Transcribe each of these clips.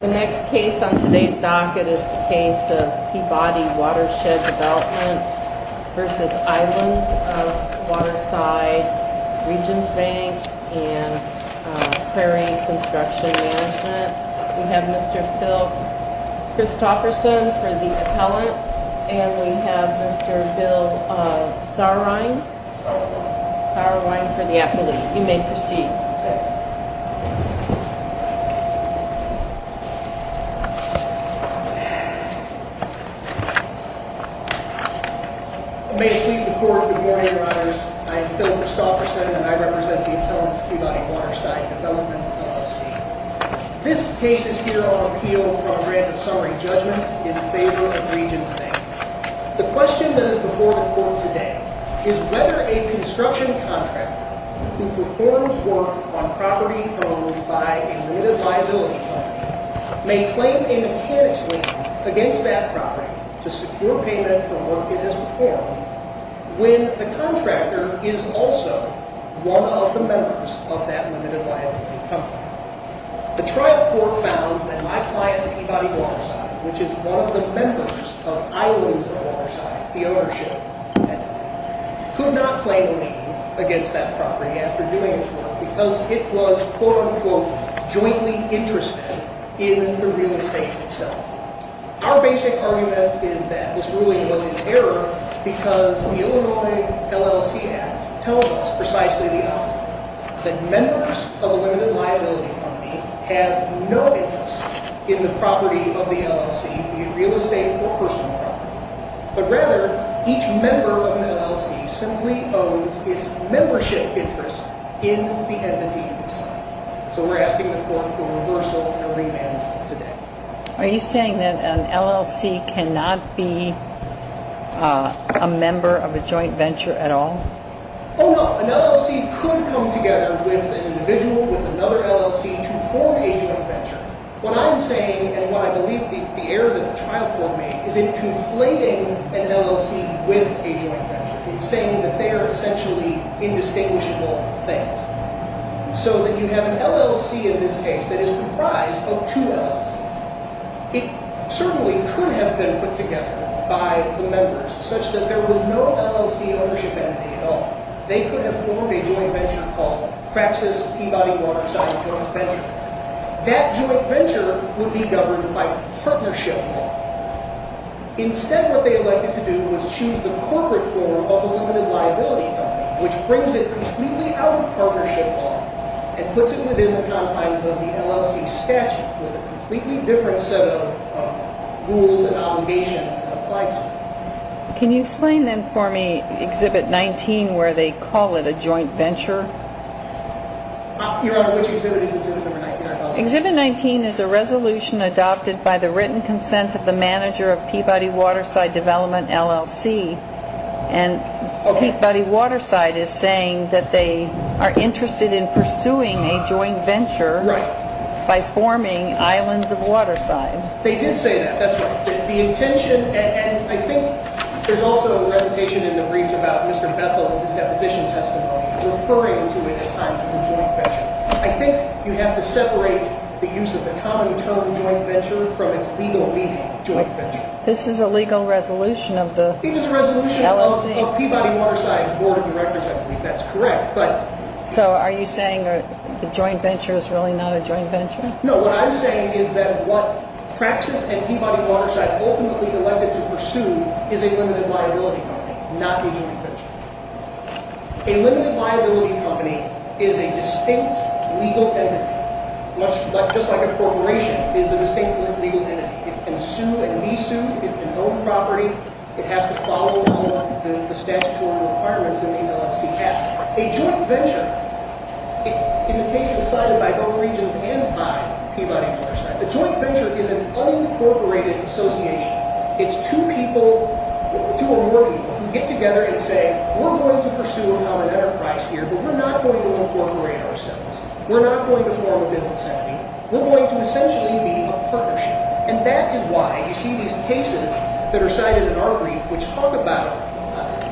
The next case on today's docket is the case of Peabody-Watershed Development v. Islands of Waterside, Regions Bank, and Prairie Construction Management. We have Mr. Phil Christofferson for the appellant, and we have Mr. Bill Saurine for the appellate. You may proceed. May it please the court, good morning, your honors. I am Phil Christofferson, and I represent the appellant's Peabody-Waterside Development, LLC. This case is here on appeal for a grant of summary judgment in favor of Regions Bank. The question that is before the court today is whether a construction contractor who performs work on property owned by a limited liability company may claim a mechanics license against that property to secure payment for work it has performed when the contractor is also one of the members of that limited liability company. The trial court found that my client at Peabody-Waterside, which is one of the members of Islands of Waterside, the ownership entity, could not claim a lien against that property after doing its work because it was quote-unquote jointly interested in the real estate itself. Our basic argument is that this ruling was in error because the Illinois LLC Act tells us precisely the opposite, that members of a limited liability company have no interest in the property of the LLC, be it real estate or personal property, but rather each member of an LLC simply owns its membership interest in the entity itself. So we're asking the court for reversal and remand today. Are you saying that an LLC cannot be a member of a joint venture at all? Oh, no. An LLC could come together with an individual with another LLC to form a joint venture. What I'm saying, and what I believe the error that the trial court made, is it conflating an LLC with a joint venture. It's saying that they are essentially indistinguishable things. So that you have an LLC in this case that is comprised of two LLCs. It certainly could have been put together by the members such that there was no LLC ownership entity at all. They could have formed a joint venture called Praxis Peabody-Waterside Joint Venture. That joint venture would be governed by partnership law. Instead, what they elected to do was choose the corporate form of a limited liability company, which brings it completely out of partnership law and puts it within the confines of the LLC statute with a completely different set of rules and obligations that apply to it. Can you explain then for me Exhibit 19 where they call it a joint venture? Your Honor, which exhibit is Exhibit 19? Exhibit 19 is a resolution adopted by the written consent of the manager of Peabody-Waterside Development, LLC. And Peabody-Waterside is saying that they are interested in pursuing a joint venture. Right. By forming Islands of Waterside. They did say that, that's right. The intention, and I think there's also a recitation in the briefs about Mr. Bethel, his deposition testimony, referring to it at times as a joint venture. I think you have to separate the use of the common term joint venture from its legal meaning, joint venture. This is a legal resolution of the LLC? It is a resolution of Peabody-Waterside's board of directors, I believe. That's correct. So are you saying the joint venture is really not a joint venture? No, what I'm saying is that what Praxis and Peabody-Waterside ultimately elected to pursue is a limited liability company, not a joint venture. A limited liability company is a distinct legal entity. Much like, just like a corporation is a distinct legal entity. It can sue and be sued. It can own property. It has to follow all the statutory requirements in the LLC. A joint venture, in the case decided by both regions and by Peabody-Waterside, a joint venture is an unincorporated association. It's two people, two or more people, who get together and say, we're going to pursue an enterprise here, but we're not going to incorporate ourselves. We're not going to form a business entity. We're going to essentially be a partnership. And that is why you see these cases that are cited in our brief, which talk about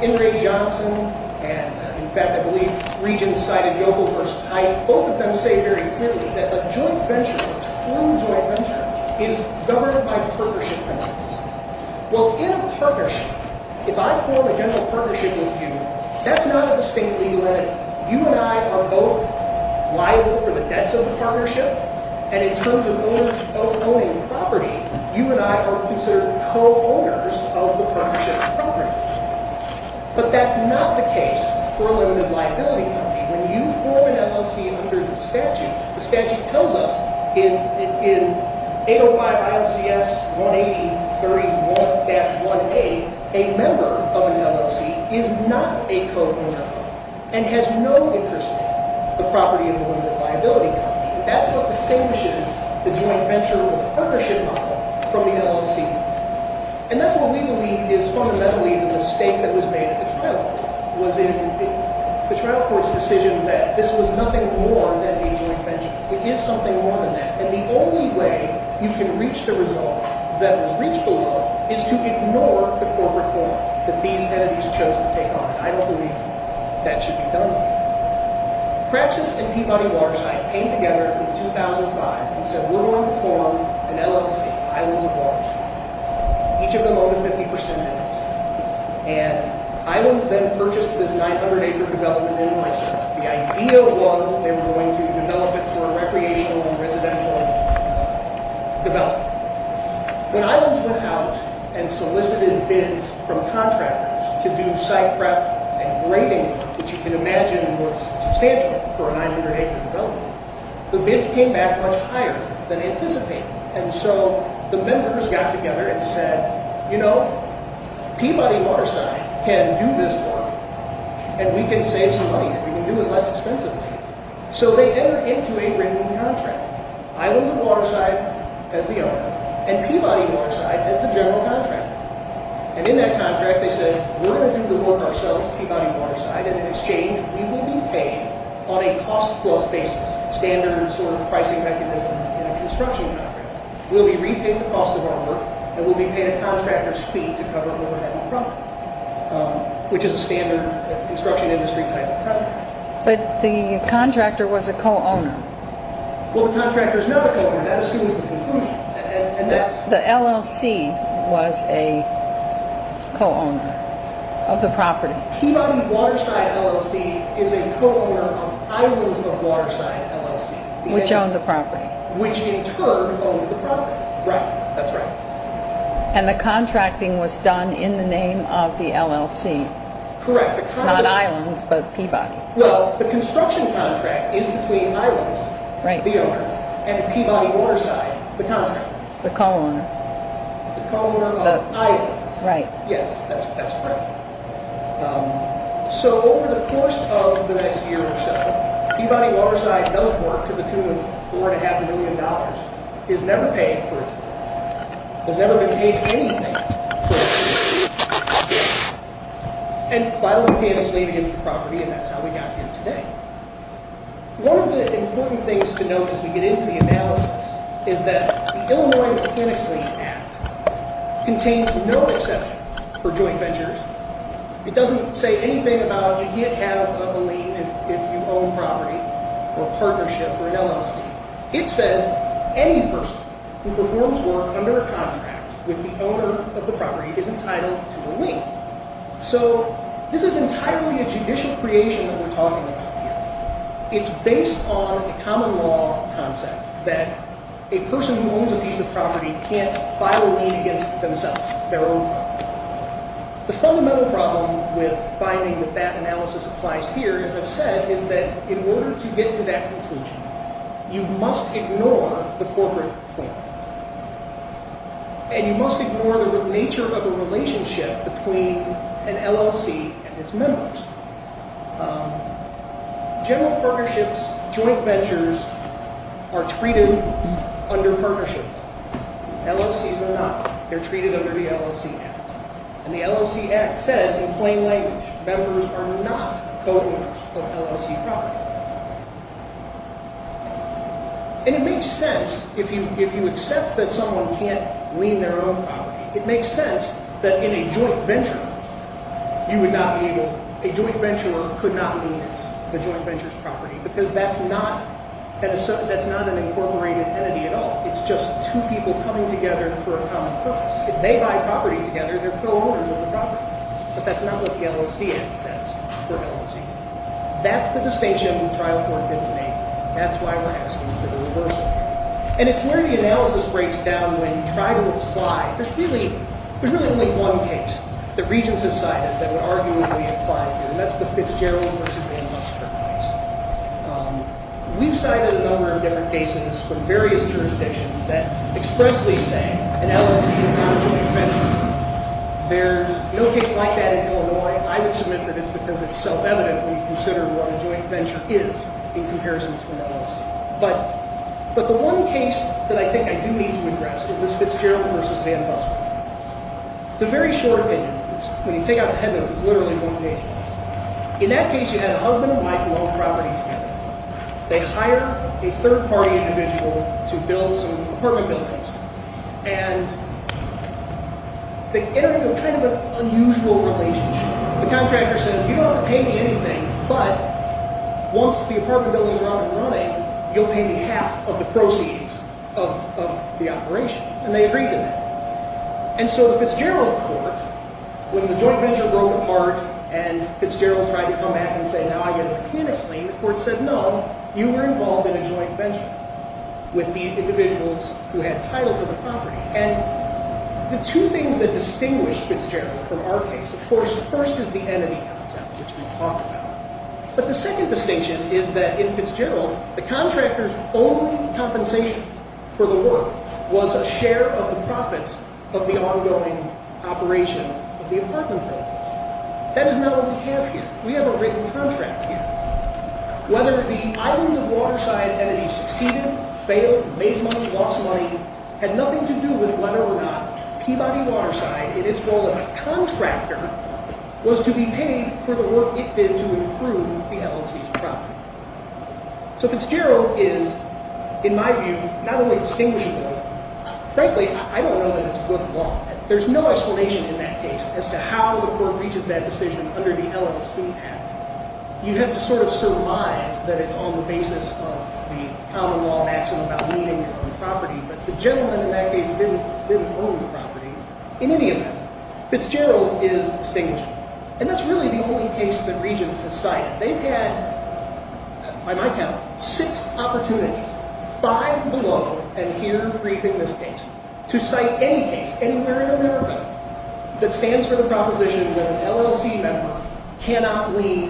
Ingray-Johnson, and in fact I believe Regents cited Yogle versus Hyde. And both of them say very clearly that a joint venture, a true joint venture, is governed by partnership principles. Well, in a partnership, if I form a general partnership with you, that's not a distinct legal entity. You and I are both liable for the debts of the partnership. And in terms of owners of owning property, you and I are considered co-owners of the partnership property. But that's not the case for a limited liability company. When you form an LLC under the statute, the statute tells us in 805 ILCS 18031-1A, a member of an LLC is not a co-owner and has no interest in the property of a limited liability company. That's what distinguishes the joint venture or the partnership model from the LLC. And that's what we believe is fundamentally the mistake that was made at the trial court, was it would be. The trial court's decision that this was nothing more than a joint venture. It is something more than that. And the only way you can reach the result that was reached below is to ignore the corporate form that these entities chose to take on. And I believe that should be done. Praxis and Peabody Waterside came together in 2005 and said we're going to form an LLC, Islands of Waterside. Each of them owned a 50% interest. And Islands then purchased this 900-acre development in Washington. The idea was they were going to develop it for recreational and residential development. When Islands went out and solicited bids from contractors to do site prep and grading work, which you can imagine was substantial for a 900-acre development, the bids came back much higher than anticipated. And so the members got together and said, you know, Peabody Waterside can do this work and we can save some money. We can do it less expensively. So they entered into a written contract. Islands of Waterside as the owner and Peabody Waterside as the general contractor. And in that contract they said we're going to do the work ourselves, Peabody Waterside, and in exchange we will be paid on a cost-plus basis, standard sort of pricing mechanism in a construction contract. We'll be repaid the cost of our work and we'll be paid a contractor's fee to cover overhead and property, which is a standard construction industry type of contract. But the contractor was a co-owner. Well, the contractor is not a co-owner. That assumes the conclusion. The LLC was a co-owner of the property. Peabody Waterside LLC is a co-owner of Islands of Waterside LLC. Which owned the property. Which in turn owned the property. Right. That's right. And the contracting was done in the name of the LLC. Correct. Not Islands, but Peabody. Well, the construction contract is between Islands, the owner, and Peabody Waterside, the contractor. The co-owner. The co-owner of Islands. Right. Yes, that's correct. So over the course of the next year or so, Peabody Waterside does work to the tune of $4.5 million. Is never paid for its work. Has never been paid for anything. And filed a mechanics lien against the property and that's how we got here today. One of the important things to note as we get into the analysis is that the Illinois Mechanics Lien Act contains no exception for joint ventures. It doesn't say anything about you can't have a lien if you own property or a partnership or an LLC. It says any person who performs work under a contract with the owner of the property is entitled to a lien. So this is entirely a judicial creation that we're talking about here. It's based on a common law concept that a person who owns a piece of property can't file a lien against themselves, their own property. The fundamental problem with finding that that analysis applies here, as I've said, is that in order to get to that conclusion, you must ignore the corporate claim. And you must ignore the nature of the relationship between an LLC and its members. General partnerships, joint ventures are treated under partnership. LLCs are not. They're treated under the LLC Act. And the LLC Act says in plain language, members are not co-owners of LLC property. And it makes sense if you accept that someone can't lien their own property. It makes sense that in a joint venture, a joint venture could not lien the joint venture's property because that's not an incorporated entity at all. It's just two people coming together for a common purpose. If they buy property together, they're co-owners of the property. But that's not what the LLC Act says for LLCs. That's the distinction the trial court didn't make. That's why we're asking for the reversal. And it's where the analysis breaks down when you try to apply. There's really only one case that Regents have cited that would arguably apply here, and that's the Fitzgerald v. Amos case. We've cited a number of different cases from various jurisdictions that expressly say an LLC is not a joint venture. There's no case like that in Illinois. I would submit that it's because it's self-evident when you consider what a joint venture is in comparison to an LLC. But the one case that I think I do need to address is this Fitzgerald v. Amos case. It's a very short opinion. When you take out the head notes, it's literally one case. In that case, you had a husband and wife who owned property together. They hire a third-party individual to build some apartment buildings. And they end up in kind of an unusual relationship. The contractor says, you don't have to pay me anything, but once the apartment buildings are up and running, you'll pay me half of the proceeds of the operation. And they agreed to that. And so the Fitzgerald court, when the joint venture broke apart and Fitzgerald tried to come back and say, now I get a pianist lien, the court said, no, you were involved in a joint venture. With the individuals who had titles of the property. And the two things that distinguish Fitzgerald from our case, of course, the first is the entity concept, which we talked about. But the second distinction is that in Fitzgerald, the contractor's only compensation for the work was a share of the profits of the ongoing operation of the apartment buildings. That is not what we have here. We have a written contract here. Whether the Islands of Waterside entity succeeded, failed, made money, lost money, had nothing to do with whether or not Peabody Waterside, in its role as a contractor, was to be paid for the work it did to improve the LLC's property. So Fitzgerald is, in my view, not only distinguishable, frankly, I don't know that it's good law. There's no explanation in that case as to how the court reaches that decision under the LLC Act. You have to sort of surmise that it's on the basis of the common law action about lien income and property. But the gentleman in that case didn't own the property in any event. Fitzgerald is distinguishable. And that's really the only case that Regents has cited. They've had, by my count, six opportunities, five below and here briefing this case, to cite any case anywhere in America that stands for the proposition that an LLC member cannot lien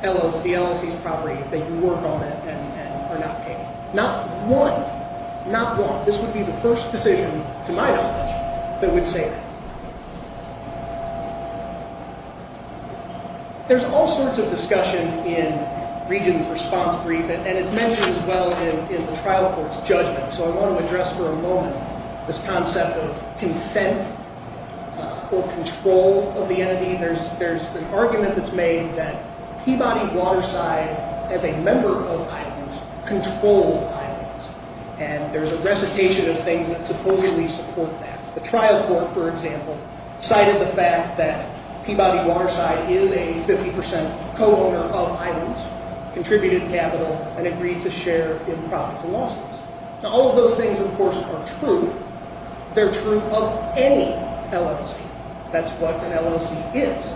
the LLC's property if they do work on it and are not paid. Not one. Not one. This would be the first decision, to my knowledge, that would say that. There's all sorts of discussion in Regents' response brief, and it's mentioned as well in the trial court's judgment. So I want to address for a moment this concept of consent or control of the entity. There's an argument that's made that Peabody Waterside, as a member of Iowans, controlled Iowans. And there's a recitation of things that supposedly support that. The trial court, for example, cited the fact that Peabody Waterside is a 50% co-owner of Iowans, contributed capital, and agreed to share in profits and losses. Now, all of those things, of course, are true. They're true of any LLC. That's what an LLC is.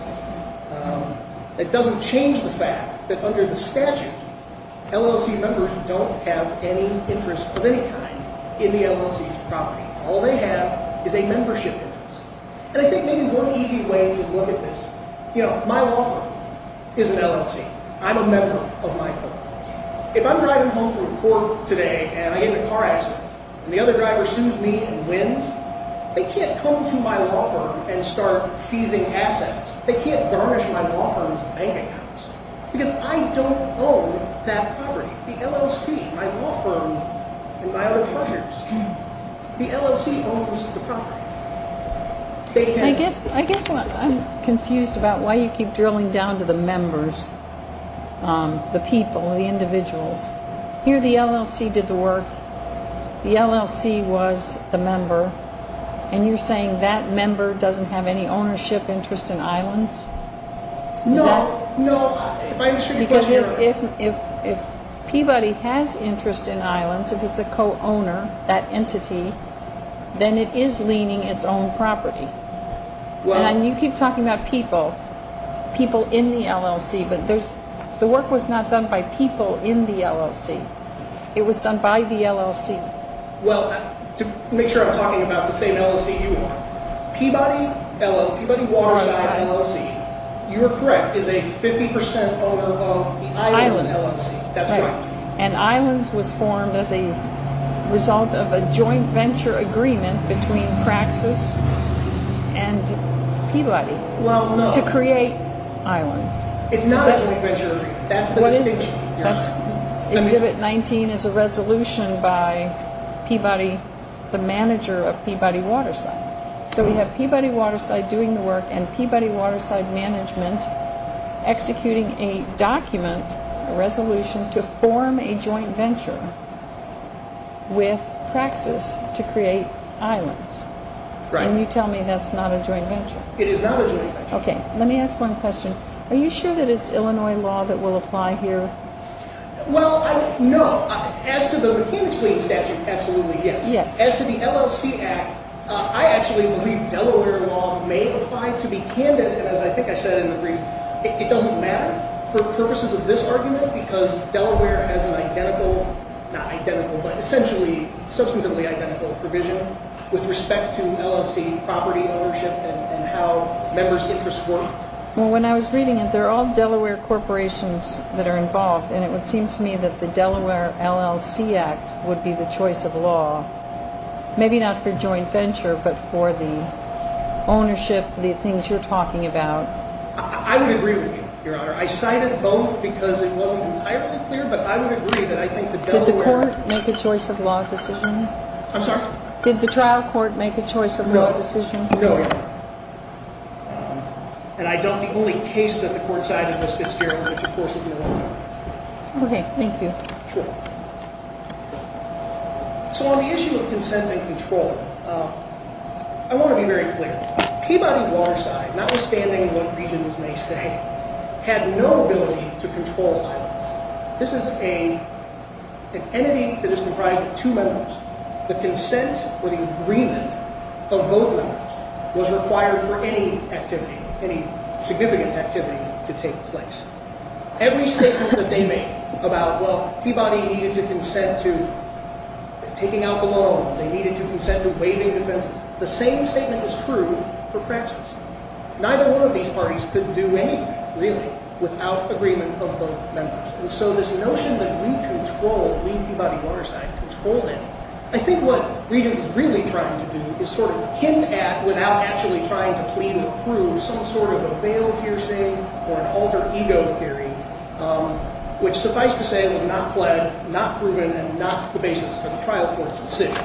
It doesn't change the fact that under the statute, LLC members don't have any interest of any kind in the LLC's property. All they have is a membership interest. And I think maybe one easy way to look at this, you know, my law firm is an LLC. I'm a member of my firm. If I'm driving home from court today, and I get in a car accident, and the other driver sues me and wins, they can't come to my law firm and start seizing assets. They can't garnish my law firm's bank accounts, because I don't own that property. The LLC, my law firm and my other partners, the LLC owns the property. I guess I'm confused about why you keep drilling down to the members, the people, the individuals. Here the LLC did the work. The LLC was the member, and you're saying that member doesn't have any ownership interest in Iowans? No, no. Because if Peabody has interest in Iowans, if it's a co-owner, that entity, then it is leaning its own property. And you keep talking about people, people in the LLC, but the work was not done by people in the LLC. It was done by the LLC. Well, to make sure I'm talking about the same LLC you own, Peabody, Peabody Waterside LLC, you are correct, is a 50 percent owner of the Iowans LLC. That's right. And Iowans was formed as a result of a joint venture agreement between Praxis and Peabody to create Iowans. It's not a joint venture agreement. Exhibit 19 is a resolution by Peabody, the manager of Peabody Waterside. So we have Peabody Waterside doing the work and Peabody Waterside Management executing a document, a resolution, to form a joint venture with Praxis to create Iowans. Right. And you tell me that's not a joint venture. It is not a joint venture. Okay, let me ask one question. Are you sure that it's Illinois law that will apply here? Well, no. As to the mechanics lien statute, absolutely yes. Yes. As to the LLC Act, I actually believe Delaware law may apply to be candid. And as I think I said in the brief, it doesn't matter. For purposes of this argument, because Delaware has an identical, not identical, but essentially substantively identical provision with respect to LLC property ownership and how members' interests work. Well, when I was reading it, they're all Delaware corporations that are involved. And it would seem to me that the Delaware LLC Act would be the choice of law, maybe not for joint venture, but for the ownership, the things you're talking about. I would agree with you, Your Honor. I cited both because it wasn't entirely clear, but I would agree that I think the Delaware- Did the court make a choice of law decision? I'm sorry? Did the trial court make a choice of law decision? No, Your Honor. And I doubt the only case that the court cited was Fitzgerald, which, of course, is Illinois. Okay, thank you. Sure. So on the issue of consent and control, I want to be very clear. Peabody Waterside, notwithstanding what regions may say, had no ability to control islands. This is an entity that is comprised of two members. The consent or the agreement of both members was required for any activity, any significant activity to take place. Every statement that they made about, well, Peabody needed to consent to taking out the loan, they needed to consent to waiving defenses, the same statement is true for praxis. Neither one of these parties could do anything, really, without agreement of both members. And so this notion that we control, we, Peabody Waterside, control it, I think what regions is really trying to do is sort of hint at, without actually trying to plead or prove, some sort of a veil piercing or an alter ego theory, which, suffice to say, was not pled, not proven, and not the basis for the trial court's decision.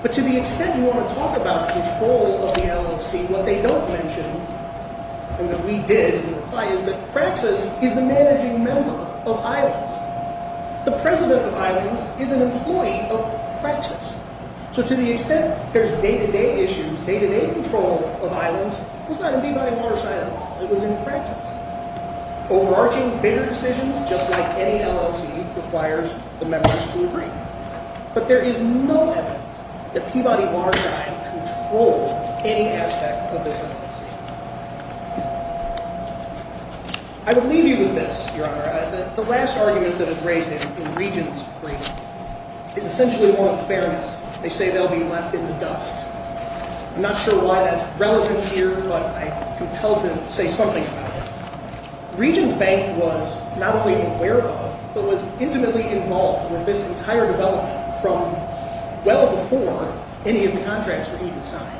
But to the extent you want to talk about control of the LLC, what they don't mention, and what we did in the reply, is that praxis is the managing member of islands. The president of islands is an employee of praxis. So to the extent there's day-to-day issues, day-to-day control of islands was not in Peabody Waterside at all. It was in praxis. Overarching bigger decisions, just like any LLC, requires the members to agree. But there is no evidence that Peabody Waterside controlled any aspect of this LLC. I will leave you with this, Your Honor. The last argument that is raised in Regents' brief is essentially one of fairness. I'm not sure why that's relevant here, but I'm compelled to say something about it. Regents Bank was not only aware of, but was intimately involved with this entire development from well before any of the contracts were even signed.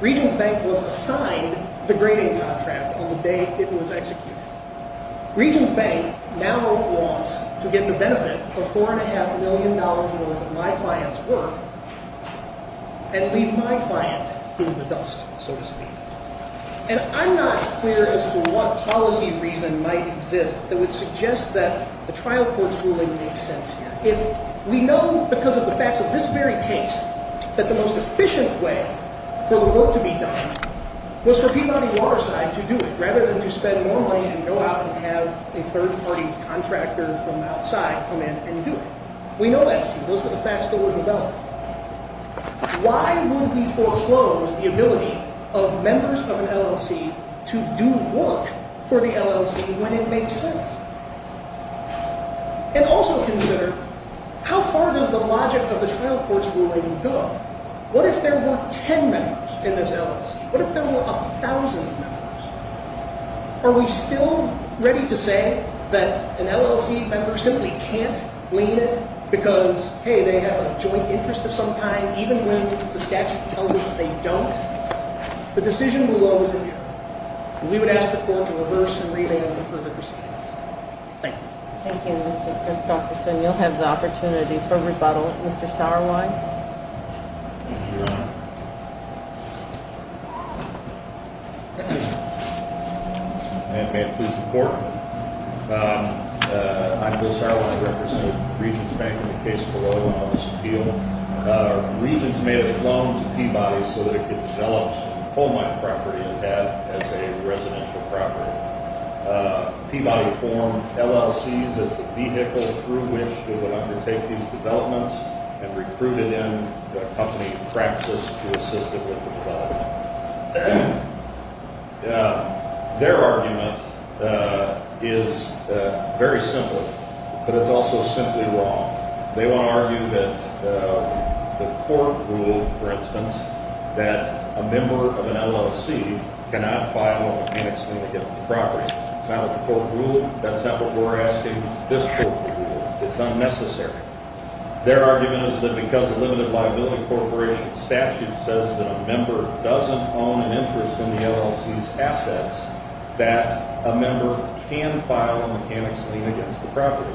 Regents Bank was assigned the grading contract on the day it was executed. Regents Bank now wants to get the benefit of $4.5 million worth of my client's work and leave my client in the dust, so to speak. And I'm not clear as to what policy reason might exist that would suggest that the trial court's ruling makes sense here. If we know because of the facts of this very case that the most efficient way for the work to be done was for Peabody Waterside to do it, rather than to spend more money and go out and have a third-party contractor from outside come in and do it. We know that's true. Those are the facts that we know. Why would we foreclose the ability of members of an LLC to do work for the LLC when it makes sense? And also consider, how far does the logic of the trial court's ruling go? What if there were 10 members in this LLC? What if there were 1,000 members? Are we still ready to say that an LLC member simply can't lean in because, hey, they have a joint interest of some kind, even when the statute tells us they don't? The decision will always be here. We would ask the court to reverse and revamp the further proceedings. Thank you. Thank you, Mr. Christofferson. You'll have the opportunity for rebuttal. Mr. Sauerwein? And may it please the Court, I'm Bill Sauerwein. I represent Regents Bank in the case below, and I'll just appeal. Regents made a loan to Peabody so that it could develop some home-like property it had as a residential property. Peabody formed LLCs as the vehicle through which it would undertake these developments and recruited in a company, Praxis, to assist it with the development. Their argument is very simple, but it's also simply wrong. They want to argue that the court ruled, for instance, that a member of an LLC cannot file a mechanics lien against the property. That's not what the court ruled. That's not what we're asking this court to rule. It's unnecessary. Their argument is that because the Limited Liability Corporation statute says that a member doesn't own an interest in the LLC's assets, that a member can file a mechanics lien against the property.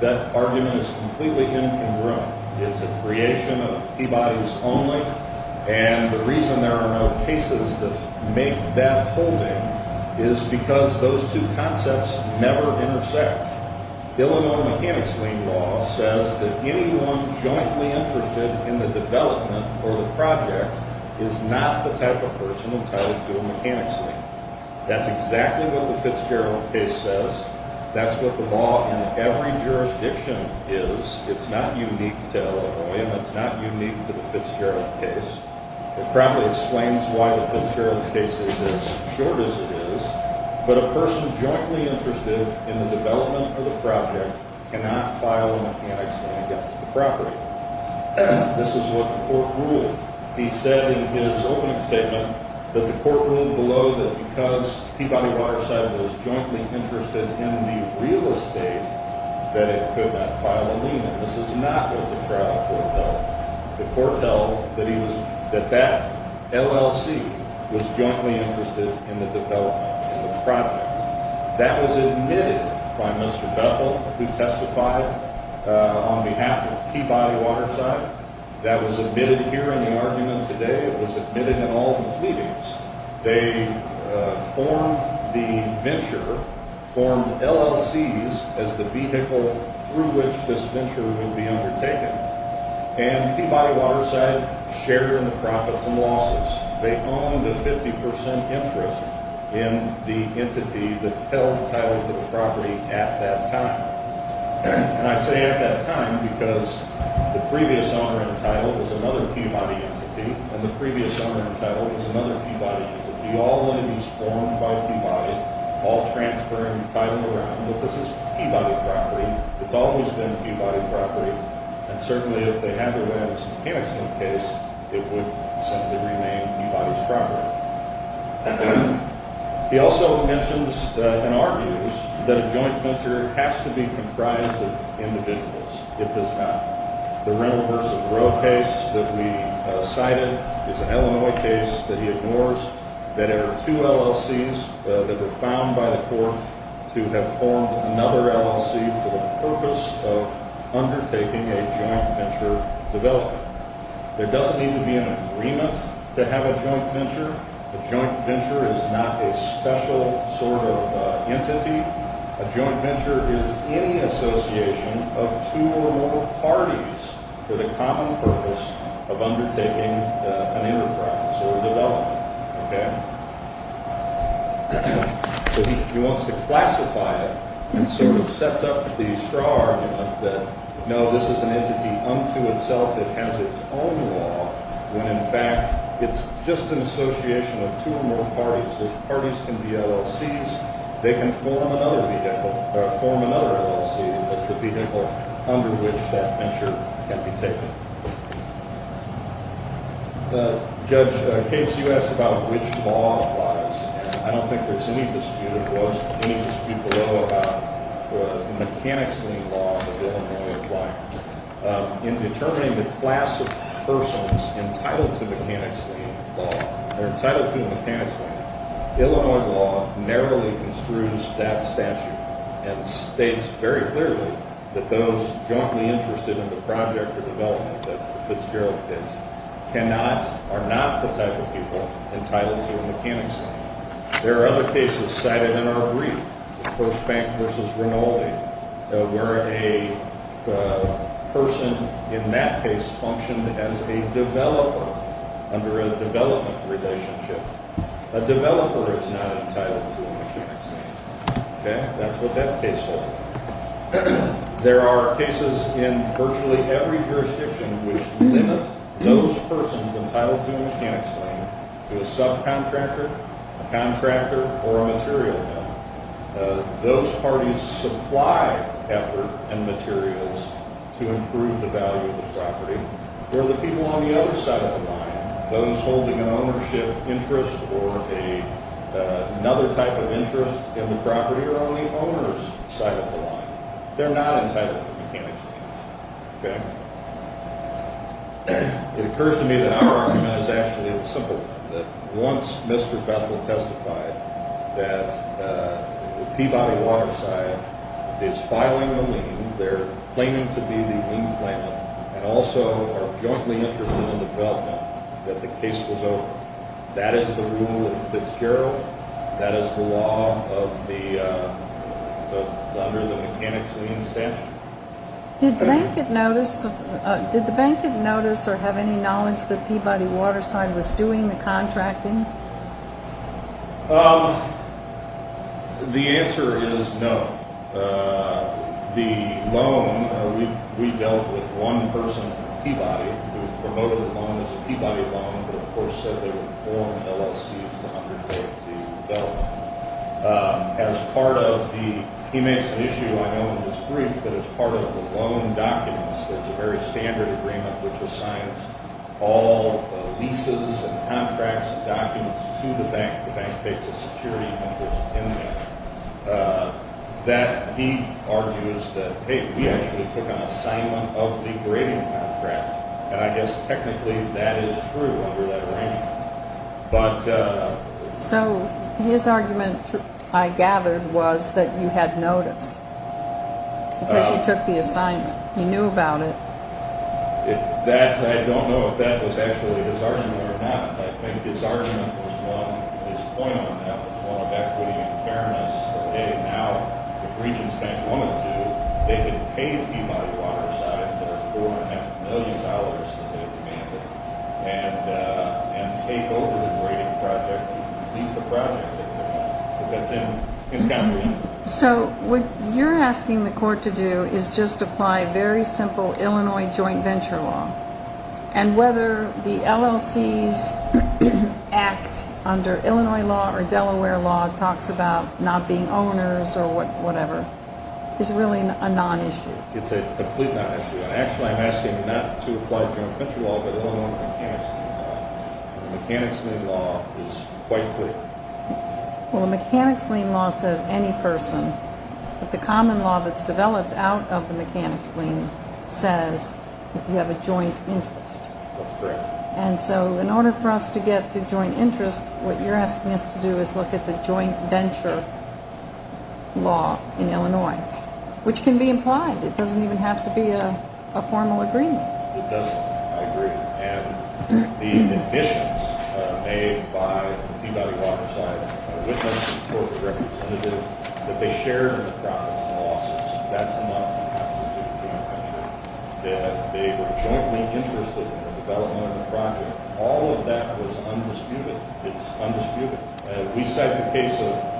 That argument is completely incongruent. It's a creation of Peabody's only, and the reason there are no cases that make that holding is because those two concepts never intersect. Illinois mechanics lien law says that anyone jointly interested in the development or the project is not the type of person entitled to a mechanics lien. That's exactly what the Fitzgerald case says. That's what the law in every jurisdiction is. It's not unique to Illinois, and it's not unique to the Fitzgerald case. It probably explains why the Fitzgerald case is as short as it is, but a person jointly interested in the development or the project cannot file a mechanics lien against the property. This is what the court ruled. He said in his opening statement that the court ruled below that because Peabody Waterside was jointly interested in the real estate, that it could not file a lien. This is not what the trial court held. The court held that that LLC was jointly interested in the development or the project. That was admitted by Mr. Bethel, who testified on behalf of Peabody Waterside. That was admitted here in the argument today. It was admitted in all the pleadings. They formed the venture, formed LLCs as the vehicle through which this venture would be undertaken, and Peabody Waterside shared in the profits and losses. They owned a 50% interest in the entity that held title to the property at that time. And I say at that time because the previous owner in title was another Peabody entity, and the previous owner in title was another Peabody entity, all the land was formed by Peabody, all transferred and titled around. This is Peabody property. It's always been Peabody property. And certainly if they had their way out of some handicap case, it would simply remain Peabody's property. He also mentions and argues that a joint venture has to be comprised of individuals. It does not. The rental versus road case that we cited is an Illinois case that he ignores, that there are two LLCs that were found by the court to have formed another LLC for the purpose of undertaking a joint venture development. There doesn't need to be an agreement to have a joint venture. A joint venture is not a special sort of entity. A joint venture is any association of two or more parties for the common purpose of undertaking an enterprise or development. Okay? So he wants to classify it and sort of sets up the straw argument that, no, this is an entity unto itself. It has its own law when, in fact, it's just an association of two or more parties. Those parties can be LLCs. They can form another vehicle or form another LLC as the vehicle under which that venture can be taken. Judge, in case you asked about which law applies, and I don't think there's any dispute, it was any dispute below about the mechanics lien law that Illinois applied. In determining the class of persons entitled to mechanics lien law, Illinois law narrowly construes that statute and states very clearly that those jointly interested in the project or development, that's the Fitzgerald case, cannot or are not the type of people entitled to a mechanics lien. There are other cases cited in our brief, First Bank v. Rinaldi, where a person in that case functioned as a developer under a development relationship. A developer is not entitled to a mechanics lien. Okay? That's what that case holds. There are cases in virtually every jurisdiction which limits those persons entitled to a mechanics lien to a subcontractor, a contractor, or a material vendor. Those parties supply effort and materials to improve the value of the property. Where the people on the other side of the line, those holding an ownership interest or another type of interest in the property, are on the owner's side of the line. They're not entitled to mechanics liens. Okay? It occurs to me that our argument is actually a simple one, that once Mr. Bethel testified that Peabody Waterside is filing a lien, they're claiming to be the lien claimant and also are jointly interested in development, that the case was over. That is the rule of Fitzgerald. That is the law under the mechanics lien statute. Did the bank get notice or have any knowledge that Peabody Waterside was doing the contracting? The answer is no. The loan, we dealt with one person from Peabody who promoted the loan as a Peabody loan, but of course said they would form LLCs to undertake the development. As part of the, he makes an issue I know in his brief, but as part of the loan documents, there's a very standard agreement which assigns all leases and contracts and documents to the bank. The bank takes a security interest in that. That he argues that, hey, we actually took an assignment of the grading contract, and I guess technically that is true under that arrangement. So his argument, I gathered, was that you had notice because you took the assignment. You knew about it. I don't know if that was actually his argument or not. I think his argument was one, his point on that was one of equity and fairness. Hey, now if Regents Bank wanted to, they could pay the Peabody Waterside their $4.5 million that they demanded and take over the grading project to complete the project. That's in his category. So what you're asking the court to do is just apply very simple Illinois joint venture law. And whether the LLC's act under Illinois law or Delaware law talks about not being owners or whatever is really a non-issue. It's a complete non-issue. Actually, I'm asking not to apply joint venture law, but Illinois mechanics lien law. The mechanics lien law is quite clear. Well, the mechanics lien law says any person. But the common law that's developed out of the mechanics lien says you have a joint interest. That's correct. And so in order for us to get to joint interest, what you're asking us to do is look at the joint venture law in Illinois, which can be implied. It doesn't even have to be a formal agreement. It doesn't, I agree. And the admissions made by Peabody Waterside, which I support as a representative, that they shared in their profits and losses. That's enough to pass into a joint venture. That they were jointly interested in the development of the project. All of that was undisputed. It's undisputed. We said in the case of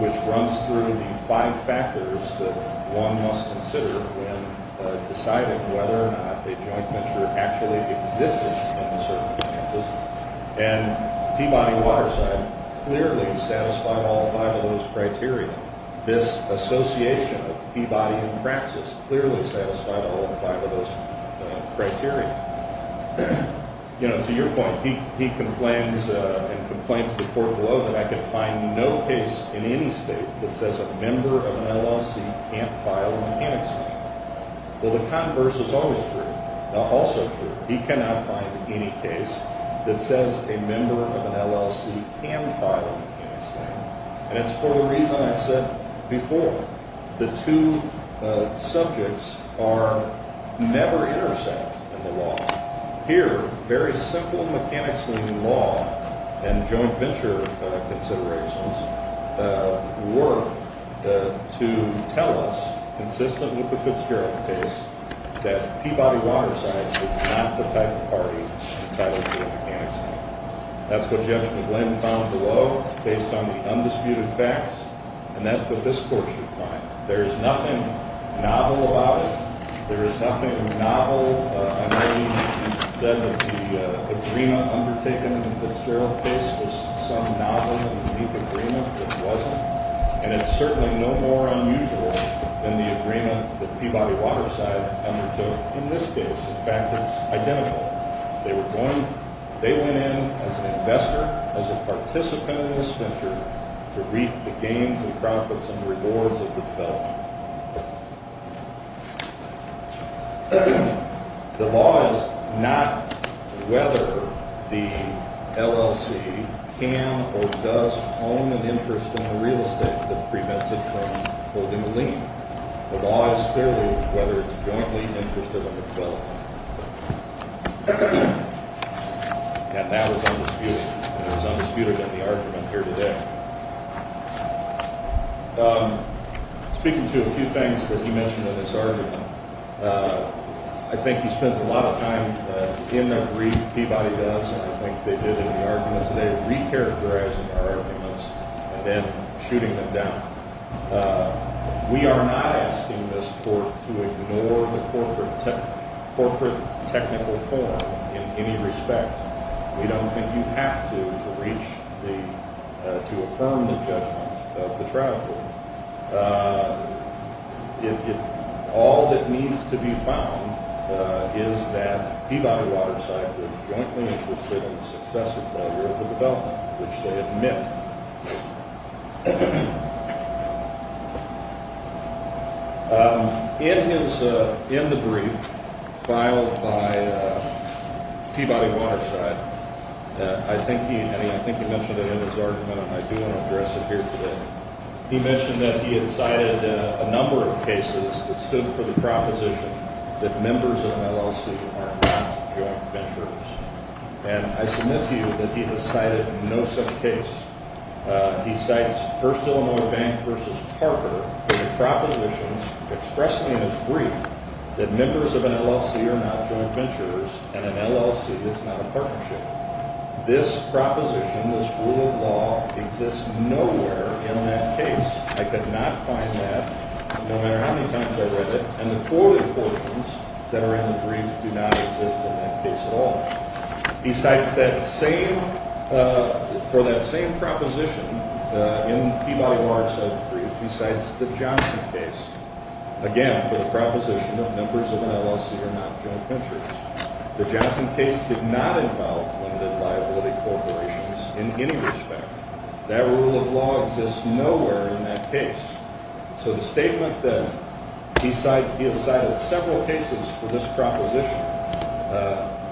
which runs through the five factors that one must consider when deciding whether or not a joint venture actually existed. And Peabody Waterside clearly satisfied all five of those criteria. This association of Peabody and Praxis clearly satisfied all five of those criteria. You know, to your point, he complains and complains to the court below that I can find no case in any state that says a member of an LLC can't file a mechanics lien. Well, the converse is always true. Also true. He cannot find any case that says a member of an LLC can file a mechanics lien. And it's for the reason I said before. The two subjects are never intersect in the law. Here, very simple mechanics lien law and joint venture considerations work to tell us, consistent with the Fitzgerald case, that Peabody Waterside is not the type of party to file a mechanics lien. That's what Judge McGlynn found below based on the undisputed facts. And that's what this court should find. There is nothing novel about it. There is nothing novel. I know you said that the agreement undertaken in the Fitzgerald case was some novel and unique agreement. It wasn't. And it's certainly no more unusual than the agreement that Peabody Waterside undertook in this case. In fact, it's identical. They went in as an investor, as a participant in this venture, to reap the gains and profits and rewards of the development. The law is not whether the LLC can or does own an interest in a real estate that prevents it from holding a lien. The law is clearly whether it's jointly interested in the development. And that was undisputed. And it was undisputed in the argument here today. Speaking to a few things that he mentioned in this argument, I think he spends a lot of time in that brief Peabody does and I think they did in the argument. So they're recharacterizing our arguments and then shooting them down. We are not asking this court to ignore the corporate technical forum in any respect. We don't think you have to, to reach the, to affirm the judgment of the trial court. All that needs to be found is that Peabody Waterside is jointly interested in the success or failure of the development, which they admit. In his, in the brief filed by Peabody Waterside, I think he, I think he mentioned it in his argument and I do want to address it here today. He mentioned that he had cited a number of cases that stood for the proposition that members of an LLC are not joint venturers. And I submit to you that he has cited no such case. He cites First Illinois Bank versus Parker for the propositions expressly in his brief that members of an LLC are not joint venturers and an LLC is not a partnership. This proposition, this rule of law exists nowhere in that case. I could not find that no matter how many times I read it and the quoted portions that are in the brief do not exist in that case at all. He cites that same, for that same proposition in Peabody Waterside's brief, he cites the Johnson case. Again, for the proposition of members of an LLC are not joint venturers. The Johnson case did not involve limited liability corporations in any respect. That rule of law exists nowhere in that case. So the statement that he cited several cases for this proposition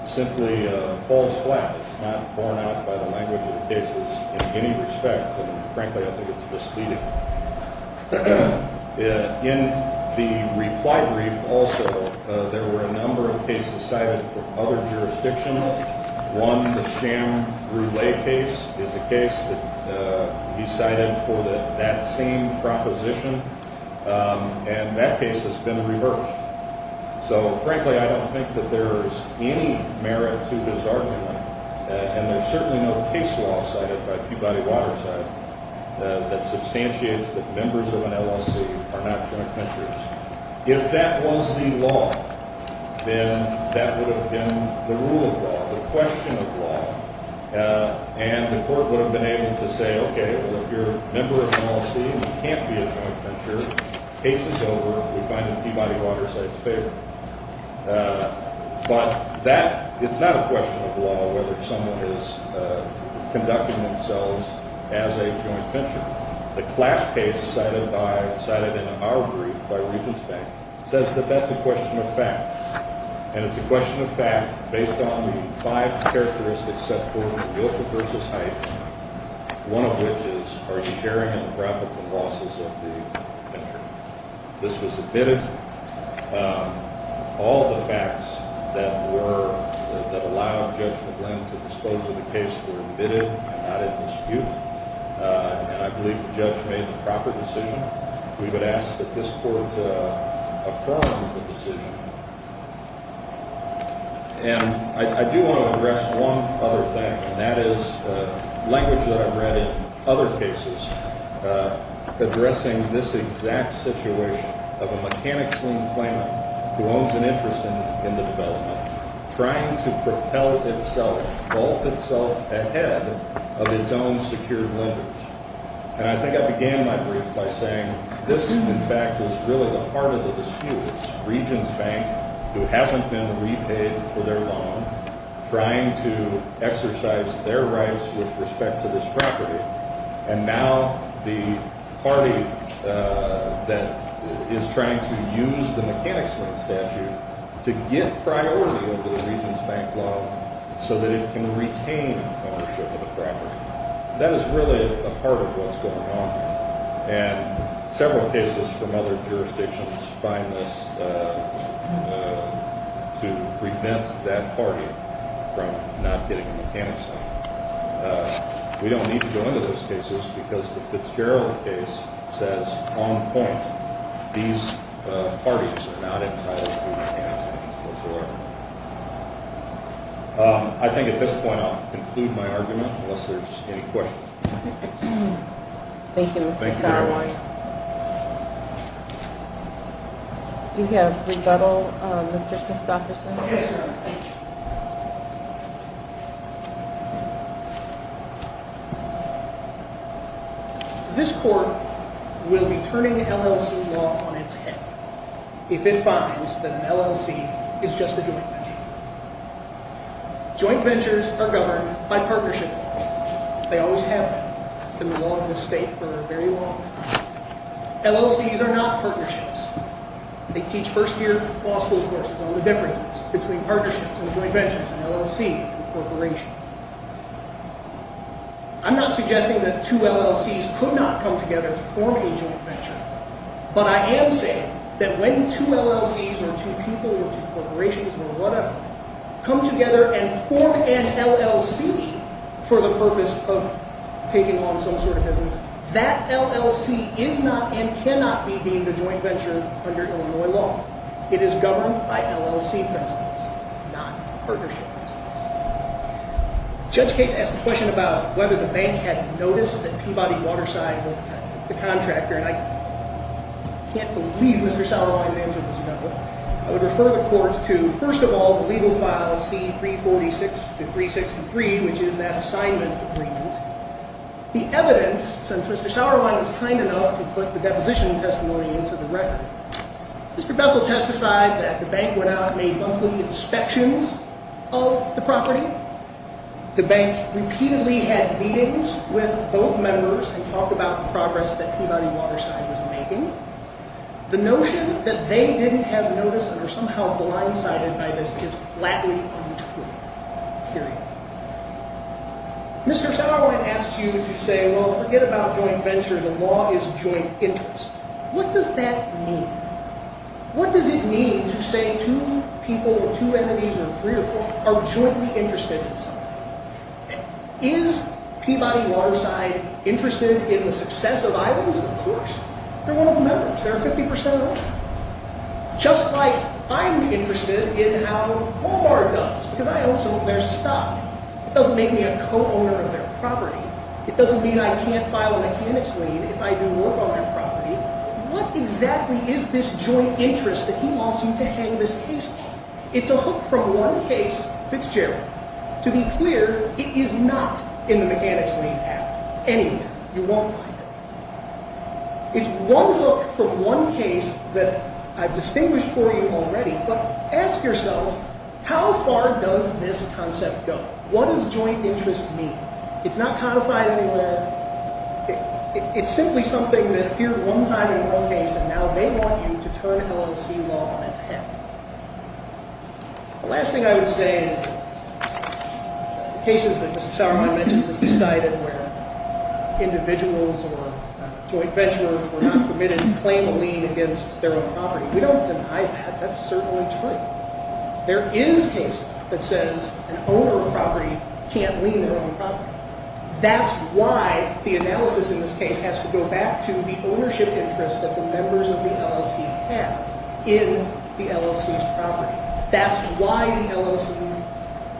simply falls flat. It's not borne out by the language of the cases in any respect and frankly I think it's misleading. In the reply brief also there were a number of cases cited from other jurisdictions. One, the Sham Brule case is a case that he cited for that same proposition and that case has been reversed. So frankly I don't think that there is any merit to his argument and there's certainly no case law cited by Peabody Waterside that substantiates that members of an LLC are not joint venturers. If that was the law, then that would have been the rule of law, the question of law, and the court would have been able to say, okay, well if you're a member of an LLC and you can't be a joint venturer, case is over, we find it in Peabody Waterside's favor. But that, it's not a question of law whether someone is conducting themselves as a joint venturer. The class case cited by, cited in our brief by Regents Bank says that that's a question of fact. And it's a question of fact based on the five characteristics set forth in the willful person's height, one of which is are you sharing in the profits and losses of the venturer. This was admitted. All the facts that were, that allowed Judge McGlynn to disclose the case were admitted and not in dispute. And I believe the judge made the proper decision. We would ask that this court affirm the decision. And I do want to address one other thing, and that is language that I've read in other cases addressing this exact situation of a mechanic's lien claimant who owns an interest in the development trying to propel itself, vault itself ahead of its own secured lenders. And I think I began my brief by saying this, in fact, is really the heart of the dispute. It's Regents Bank who hasn't been repaid for their loan, trying to exercise their rights with respect to this property, and now the party that is trying to use the mechanic's lien statute to get priority over the Regents Bank loan so that it can retain ownership of the property. That is really a part of what's going on. And several cases from other jurisdictions find this to prevent that party from not getting a mechanic's lien. We don't need to go into those cases because the Fitzgerald case says on point. These parties are not entitled to mechanic's liens whatsoever. I think at this point I'll conclude my argument unless there's any questions. Thank you, Mr. Sauerwein. Do you have rebuttal, Mr. Christofferson? Yes. This court will be turning LLC law on its head if it finds that an LLC is just a joint venture. Joint ventures are governed by partnership law. They always have been. It's been the law of this state for a very long time. LLCs are not partnerships. They teach first-year law school courses on the differences between partnerships and joint ventures and LLCs and corporations. I'm not suggesting that two LLCs could not come together to form a joint venture, but I am saying that when two LLCs or two people or two corporations or whatever come together and form an LLC for the purpose of taking on some sort of business, that LLC is not and cannot be deemed a joint venture under Illinois law. It is governed by LLC principles, not partnership principles. Judge Gates asked a question about whether the bank had noticed that Peabody Waterside was the contractor, and I can't believe Mr. Sauerwein's answer was no. I would refer the court to, first of all, the legal file C346 to 363, which is that assignment agreement. The evidence, since Mr. Sauerwein was kind enough to put the deposition testimony into the record, Mr. Bethel testified that the bank went out and made monthly inspections of the property. The bank repeatedly had meetings with both members and talked about the progress that Peabody Waterside was making. The notion that they didn't have notice or somehow blindsided by this is flatly untrue, period. Mr. Sauerwein asks you to say, well, forget about joint venture. The law is joint interest. What does that mean? What does it mean to say two people or two entities or three or four are jointly interested in something? Is Peabody Waterside interested in the success of islands? Of course. They're one of the members. They're 50% of the land. Just like I'm interested in how Walmart does, because I own some of their stock. It doesn't make me a co-owner of their property. It doesn't mean I can't file a mechanics lien if I do work on their property. What exactly is this joint interest that he wants you to hang this case on? It's a hook from one case, Fitzgerald. To be clear, it is not in the Mechanics Lien Act. Anywhere. You won't find it. It's one hook from one case that I've distinguished for you already, but ask yourselves, how far does this concept go? What does joint interest mean? It's not codified anywhere. It's simply something that appeared one time in one case, and now they want you to turn LLC law on its head. The last thing I would say is the cases that Mr. Sauermeier mentioned that he cited where individuals or joint venturers were not permitted to claim a lien against their own property. We don't deny that. That's certainly true. There is a case that says an owner of a property can't lien their own property. That's why the analysis in this case has to go back to the ownership interest that the members of the LLC have in the LLC's property. That's why the LLC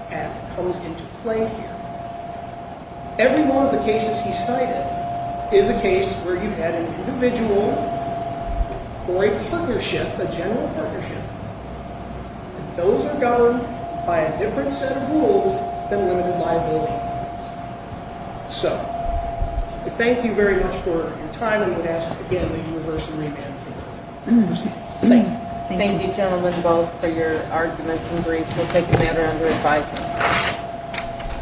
path comes into play here. Every one of the cases he cited is a case where you had an individual or a partnership, a general partnership, and those are governed by a different set of rules than limited liability. So, thank you very much for your time, and I would ask again that you reverse and revamp your argument. Thank you. Thank you, gentlemen, both for your arguments and briefs. We'll take a matter under advisement.